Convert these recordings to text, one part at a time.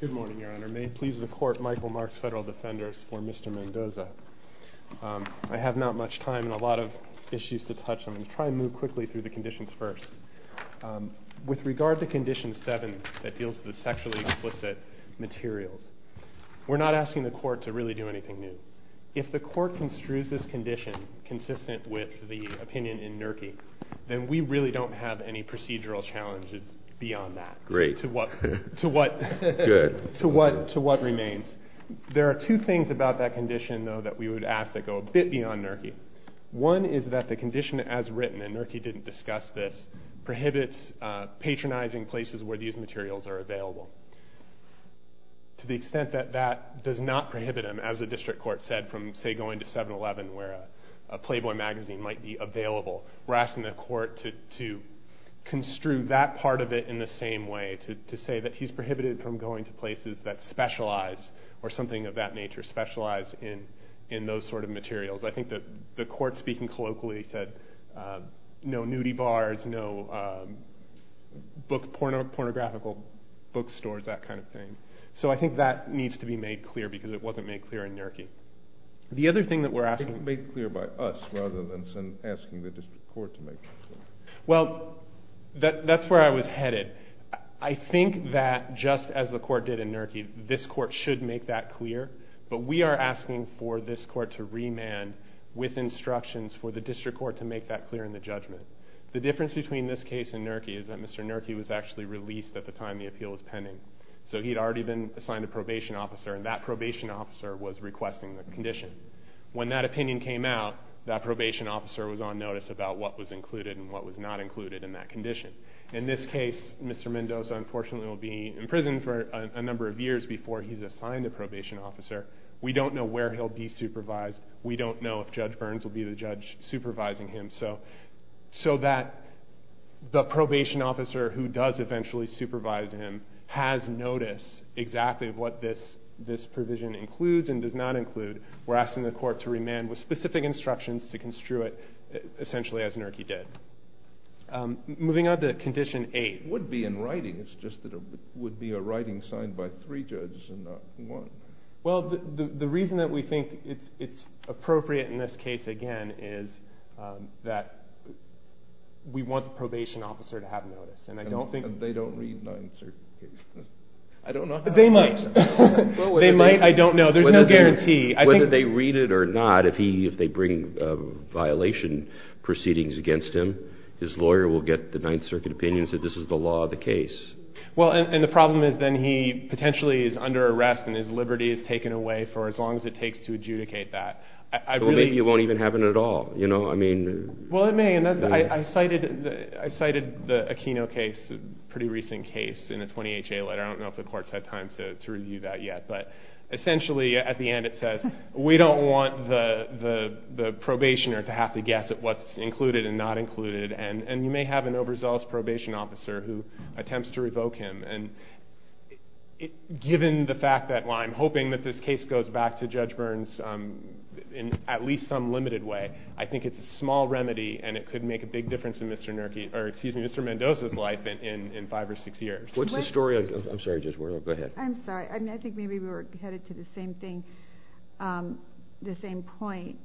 Good morning, Your Honor. May it please the Court, Michael Marks, Federal Defenders, for Mr. Mendoza. I have not much time and a lot of issues to touch on. I'll try to move quickly through the conditions first. With regard to Condition 7, that deals with sexually explicit materials, we're not asking the Court to really do anything new. If the Court construes this condition consistent with the opinion in NERCI, then we really don't have any procedural challenges beyond that. To what remains. There are two things about that condition, though, that we would ask that go a bit beyond NERCI. One is that the condition as written, and NERCI didn't discuss this, prohibits patronizing places where these materials are available. To the extent that that does not prohibit them, as the District Court said, from, say, going to 7-Eleven where a Playboy magazine might be available, we're asking the Court to construe that part of it in the same way, to say that he's prohibited from going to places that specialize, or something of that nature, specialize in those sort of materials. I think that the Court, speaking colloquially, said no nudie bars, no pornographical bookstores, that kind of thing. So I think that needs to be made clear, because it wasn't made clear in NERCI. The other thing that we're asking... Made clear by us, rather than asking the District Court to make that clear. Well, that's where I was headed. I think that, just as the Court did in NERCI, this Court should make that clear, but we are asking for this Court to remand with instructions for the District Court to make that clear in the judgment. The difference between this case and NERCI is that Mr. NERCI was actually released at the time the appeal was pending. So he'd already been assigned a probation officer, and that probation officer was requesting the condition. When that opinion came out, that probation officer was on notice about what was included and what was not included in that condition. In this case, Mr. Mendoza, unfortunately, will be in prison for a number of years before he's assigned a probation officer. We don't know where he'll be supervised. We don't know if Judge Burns will be the judge supervising him. So that the probation officer who does eventually supervise him has notice exactly of what this provision includes and does not include. We're asking the Court to remand with specific instructions to construe it essentially as NERCI did. Moving on to Condition 8. It would be in writing. It's just that it would be a writing signed by three judges and not one. Well, the reason that we think it's appropriate in this case, again, is that we want the probation officer to have notice. And they don't read Ninth Circuit cases. They might. They might. I don't know. There's no guarantee. Whether they read it or not, if they bring violation proceedings against him, his lawyer will get the Ninth Circuit opinion and say this is the law of the case. Well, and the problem is then he potentially is under arrest and his liberty is taken away for as long as it takes to adjudicate that. Or maybe it won't even happen at all. Well, it may. I cited the Aquino case, a pretty recent case, in a 20HA letter. I don't know if the Court's had time to review that yet. But essentially at the end it says we don't want the probationer to have to guess at what's included and not included. And you may have an overzealous probation officer who attempts to revoke him. And given the fact that I'm hoping that this case goes back to Judge Burns in at least some limited way, I think it's a small remedy and it could make a big difference in Mr. Mendoza's life in five or six years. What's the story? I'm sorry, Judge Ward. Go ahead. I'm sorry. I think maybe we were headed to the same thing, the same point.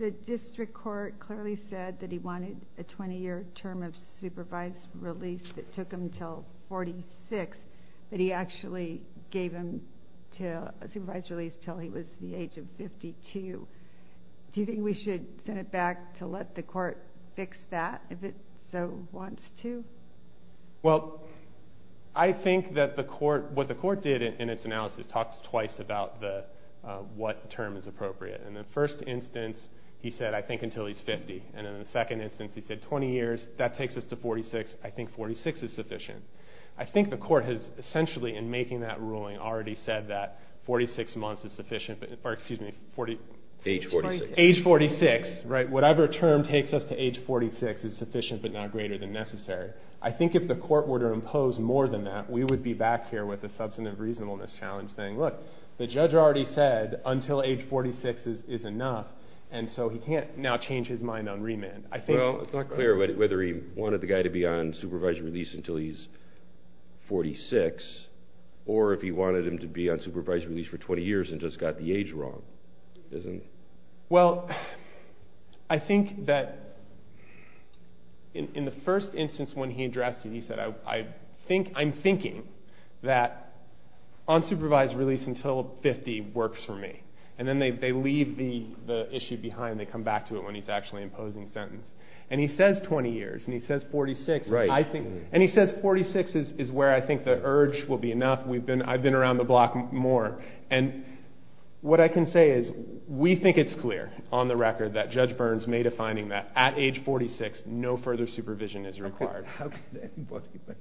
The District Court clearly said that he wanted a 20-year term of supervised release that took him until 46, but he actually gave him a supervised release until he was the age of 52. Do you think we should send it back to let the Court fix that if it so wants to? Well, I think that what the Court did in its analysis talks twice about what term is appropriate. In the first instance, he said, I think, until he's 50. And in the second instance, he said 20 years, that takes us to 46. I think 46 is sufficient. I think the Court has essentially in making that ruling already said that 46 months is sufficient, or excuse me, age 46. Whatever term takes us to age 46 is sufficient but not greater than necessary. I think if the Court were to impose more than that, we would be back here with a substantive reasonableness challenge saying, look, the judge already said until age 46 is enough, and so he can't now change his mind on remand. Well, it's not clear whether he wanted the guy to be on supervised release until he's 46, or if he wanted him to be on supervised release for 20 years and just got the age wrong. Well, I think that in the first instance when he addressed it, he said, I'm thinking that unsupervised release until 50 works for me. And then they leave the issue behind. They come back to it when he's actually imposing the sentence. And he says 20 years, and he says 46. And he says 46 is where I think the urge will be enough. I've been around the block more. And what I can say is we think it's clear on the record that Judge Burns made a finding that at age 46, no further supervision is required. How can anybody make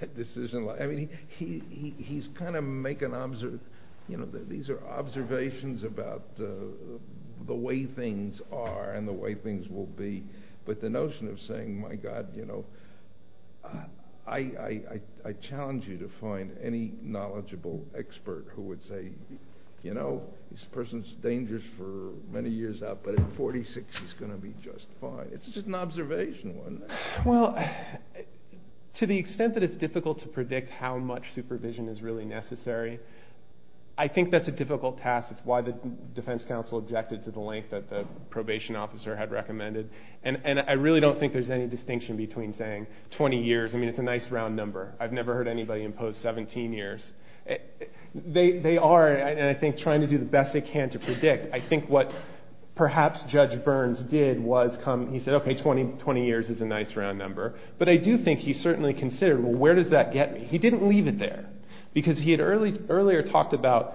a decision like that? I mean, he's kind of making observations about the way things are and the way things will be. But the notion of saying, my God, you know, I challenge you to find any knowledgeable expert who would say, you know, this person's dangerous for many years out, but at 46 he's going to be just fine. It's just an observation, wasn't it? Well, to the extent that it's difficult to predict how much supervision is really necessary, I think that's a difficult task. It's why the defense counsel objected to the length that the probation officer had recommended. And I really don't think there's any distinction between saying 20 years. I mean, it's a nice round number. I've never heard anybody impose 17 years. They are, I think, trying to do the best they can to predict. I think what perhaps Judge Burns did was he said, okay, 20 years is a nice round number. But I do think he certainly considered, well, where does that get me? He didn't leave it there. Because he had earlier talked about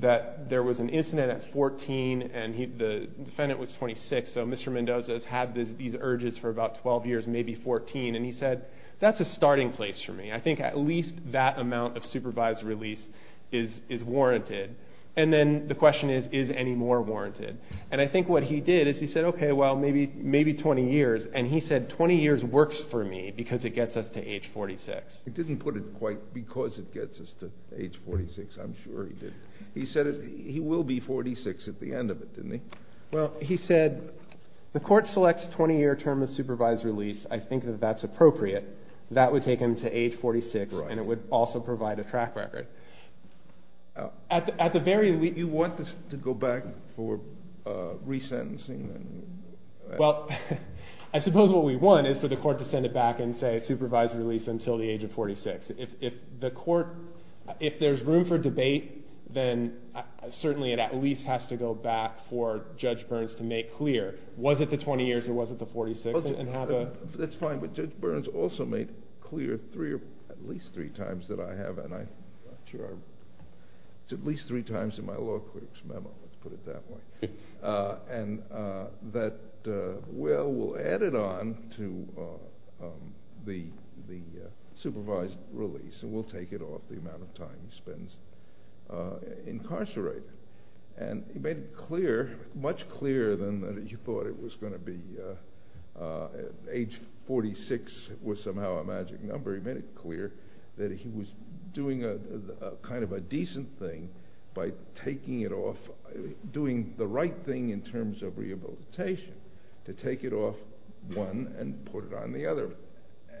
that there was an incident at 14 and the defendant was 26, so Mr. Mendoza has had these urges for about 12 years, maybe 14. And he said, that's a starting place for me. I think at least that amount of supervised release is warranted. And then the question is, is any more warranted? And I think what he did is he said, okay, well, maybe 20 years. And he said, 20 years works for me because it gets us to age 46. He didn't put it quite because it gets us to age 46. I'm sure he did. He said he will be 46 at the end of it, didn't he? Well, he said, the court selects a 20-year term of supervised release. I think that that's appropriate. That would take him to age 46, and it would also provide a track record. You want to go back for resentencing? Well, I suppose what we want is for the court to send it back and say, supervised release until the age of 46. If the court, if there's room for debate, then certainly it at least has to go back for Judge Burns to make clear, was it the 20 years or was it the 46 and have a That's fine, but Judge Burns also made clear at least three times that I have, and I'm not sure, at least three times in my law clerk's memo, let's put it that way. And that, well, we'll add it on to the supervised release, and we'll take it off the amount of time he spends incarcerated. And he made it clear, much clearer than you thought it was going to be. Age 46 was somehow a magic number. He made it clear that he was doing kind of a decent thing by taking it off, doing the right thing in terms of rehabilitation, to take it off one and put it on the other.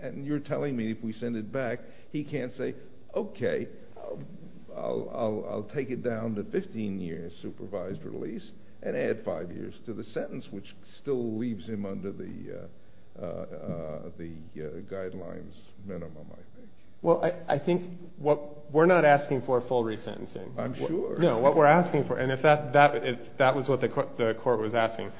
And you're telling me if we send it back, he can't say, okay, I'll take it down to 15 years supervised release and add five years to the sentence, which still leaves him under the guidelines minimum, I think. Well, I think what, we're not asking for full resentencing. I'm sure. No, what we're asking for, and if that was what the court was asking,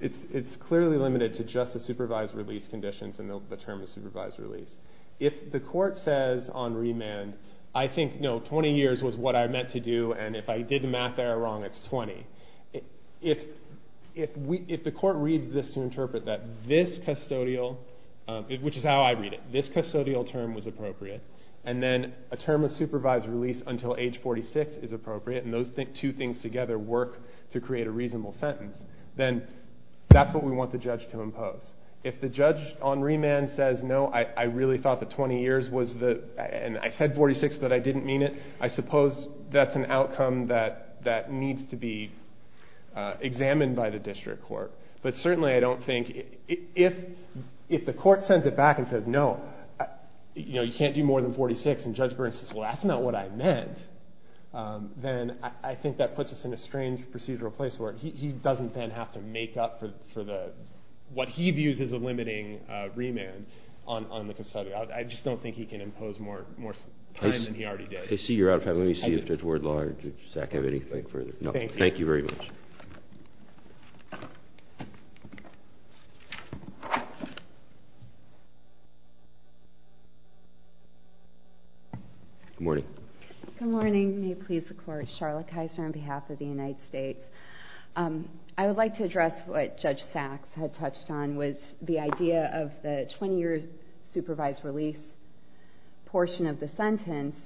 it's clearly limited to just the supervised release conditions and the term of supervised release. If the court says on remand, I think, no, 20 years was what I meant to do, and if I did the math error wrong, it's 20. If the court reads this to interpret that this custodial, which is how I read it, this custodial term was appropriate, and then a term of supervised release until age 46 is appropriate, and those two things together work to create a reasonable sentence, then that's what we want the judge to impose. If the judge on remand says, no, I really thought the 20 years was the, and I said 46, but I didn't mean it, I suppose that's an outcome that needs to be examined by the district court. But certainly I don't think, if the court sends it back and says, no, you can't do more than 46, and Judge Burns says, well, that's not what I meant, then I think that puts us in a strange procedural place where he doesn't then have to make up for what he views as a limiting remand on the custodial. I just don't think he can impose more time than he already did. I see you're out of time. Let me see if there's word large. Does Zach have anything further? No. Thank you. Thank you very much. Good morning. Good morning. May it please the court. Charlotte Kaiser on behalf of the United States. I would like to address what Judge Sachs had touched on was the idea of the 20 years supervised release portion of the sentence.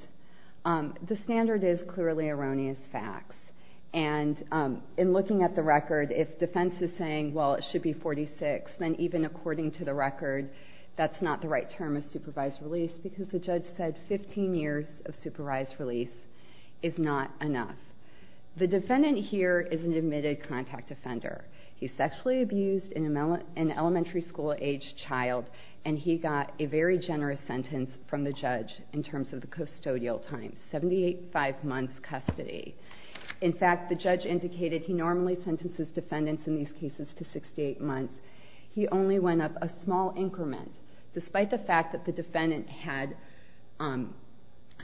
The standard is clearly erroneous facts. And in looking at the record, if defense is saying, well, it should be 46, then even according to the record, that's not the right term of supervised release because the judge said 15 years of supervised release is not enough. The defendant here is an admitted contact offender. He sexually abused an elementary school age child and he got a very generous sentence from the judge in terms of the custodial time, 75 months custody. In fact, the judge indicated he normally sentences defendants in these cases to 68 months. He only went up a small increment despite the fact that the defendant had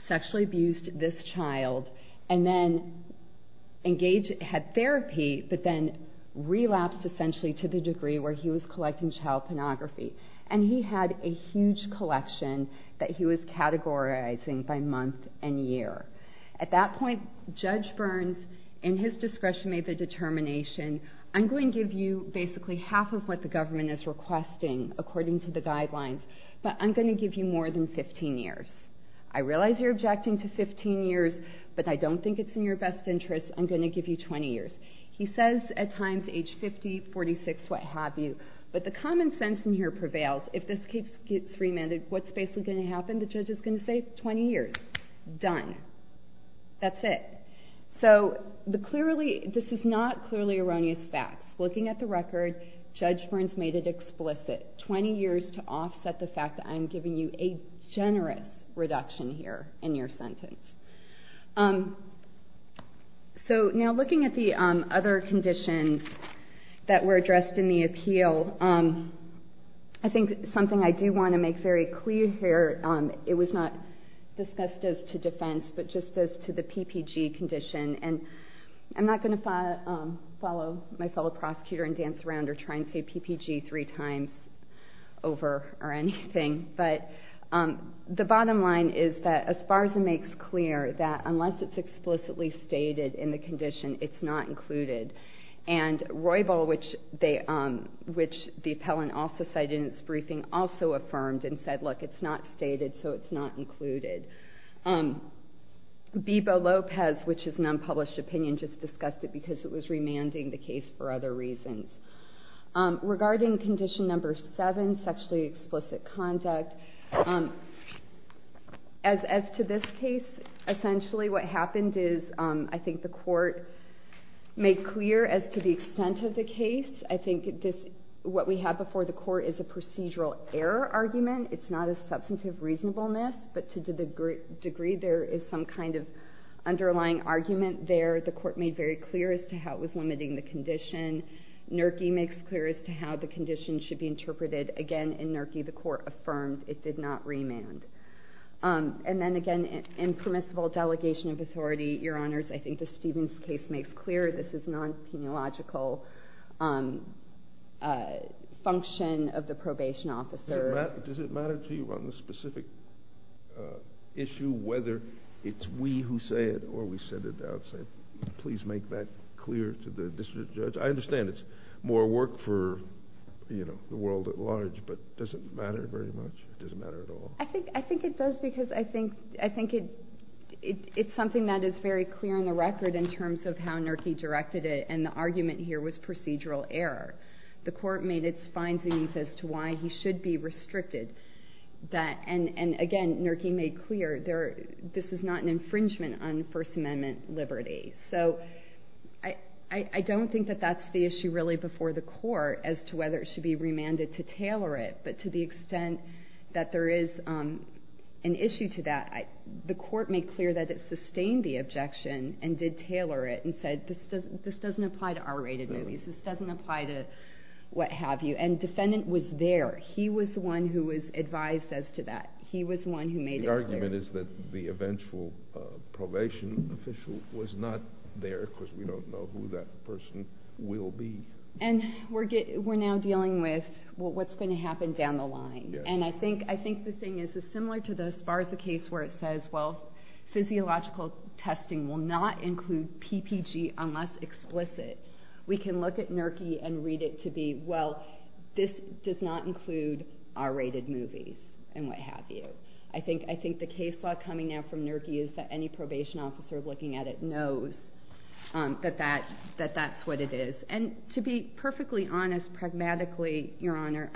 sexually abused this child and then engaged, had therapy, but then relapsed essentially to the degree where he was collecting child pornography. And he had a huge collection that he was categorizing by month and year. At that point, Judge Burns, in his discretion, made the determination, I'm going to give you basically half of what the government is requesting according to the guidelines, but I'm going to give you more than 15 years. I realize you're objecting to 15 years, but I don't think it's in your best interest. I'm going to give you 20 years. He says at times age 50, 46, what have you. But the common sense in here prevails. If this case gets remanded, what's basically going to happen? The judge is going to say 20 years. Done. That's it. So this is not clearly erroneous facts. Looking at the record, Judge Burns made it explicit, 20 years to offset the fact that I'm giving you a generous reduction here in your sentence. So now looking at the other conditions that were addressed in the appeal, I think something I do want to make very clear here, it was not discussed as to defense, but just as to the PPG condition. And I'm not going to follow my fellow prosecutor and dance around or try and say PPG three times over or anything, but the bottom line is that Esparza makes clear that unless it's explicitly stated in the condition, it's not included. And Roybal, which the appellant also cited in its briefing, also affirmed and said, look, it's not stated, so it's not included. Bebo Lopez, which is an unpublished opinion, just discussed it because it was remanding the case for other reasons. Regarding condition number seven, sexually explicit conduct, as to this case, essentially what happened is I think the court made clear as to the extent of the case. I think what we have before the court is a procedural error argument. It's not a substantive reasonableness, but to the degree there is some kind of underlying argument there, the court made very clear as to how it was limiting the condition. Nurki makes clear as to how the condition should be interpreted. Again, in Nurki, the court affirmed it did not remand. And then again, impermissible delegation of authority. Your Honors, I think the Stevens case makes clear this is non-peniological function of the probation officer. Does it matter to you on the specific issue, whether it's we who say it or we set it out and say, please make that clear to the district judge? I understand it's more work for the world at large, but does it matter very much? Does it matter at all? I think it does, because I think it's something that is very clear on the record in terms of how Nurki directed it, and the argument here was procedural error. The court made its findings as to why he should be restricted. And again, Nurki made clear this is not an infringement on First Amendment liberty. So I don't think that that's the issue really before the court as to whether it should be remanded to tailor it. But to the extent that there is an issue to that, the court made clear that it sustained the objection and did tailor it and said this doesn't apply to R-rated movies. This doesn't apply to what have you. And defendant was there. He was the one who was advised as to that. He was the one who made it clear. The argument is that the eventual probation official was not there because we don't know who that person will be. And we're now dealing with what's going to happen down the line. And I think the thing is similar to the Sparza case where it says, well, physiological testing will not include PPG unless explicit. We can look at Nurki and read it to be, well, this does not include R-rated movies and what have you. I think the case law coming now from Nurki is that any probation officer looking at it knows that that's what it is. And to be perfectly honest, pragmatically, Your Honor,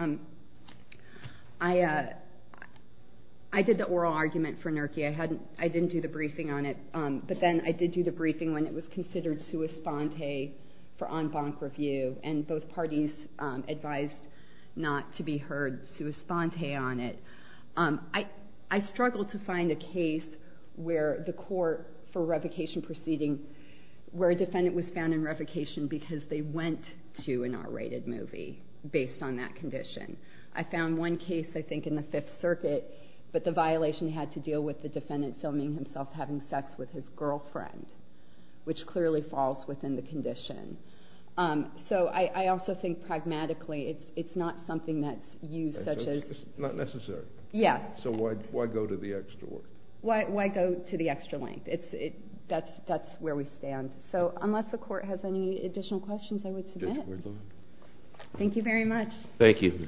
I did the oral argument for Nurki. I didn't do the briefing on it. But then I did do the briefing when it was considered sua sponte for en banc review, and both parties advised not to be heard sua sponte on it. I struggled to find a case where the court for revocation proceeding where a defendant was found in revocation because they went to an R-rated movie based on that condition. I found one case, I think, in the Fifth Circuit, but the violation had to deal with the defendant filming himself having sex with his girlfriend, which clearly falls within the condition. So I also think pragmatically it's not something that's used such as... It's not necessary. Yeah. So why go to the extra work? Why go to the extra length? That's where we stand. So unless the court has any additional questions, I would submit. Thank you very much. Thank you.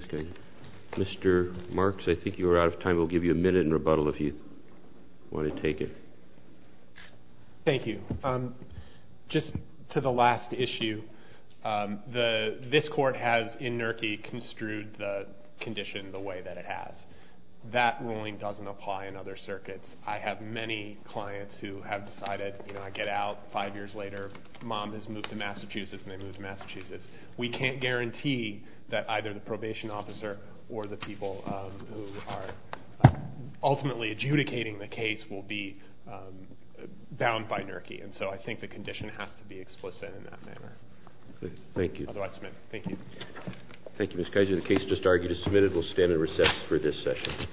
Mr. Marks, I think you are out of time. We'll give you a minute in rebuttal if you want to take it. Thank you. Just to the last issue, this court has, in NERCI, construed the condition the way that it has. That ruling doesn't apply in other circuits. I have many clients who have decided, you know, I get out five years later, mom has moved to Massachusetts, and they move to Massachusetts. We can't guarantee that either the probation officer or the people who are ultimately adjudicating the case will be bound by NERCI. And so I think the condition has to be explicit in that manner. Thank you. Otherwise, I submit. Thank you. Thank you, Mr. Keiser. The case just argued is submitted. We'll stand and recess for this session.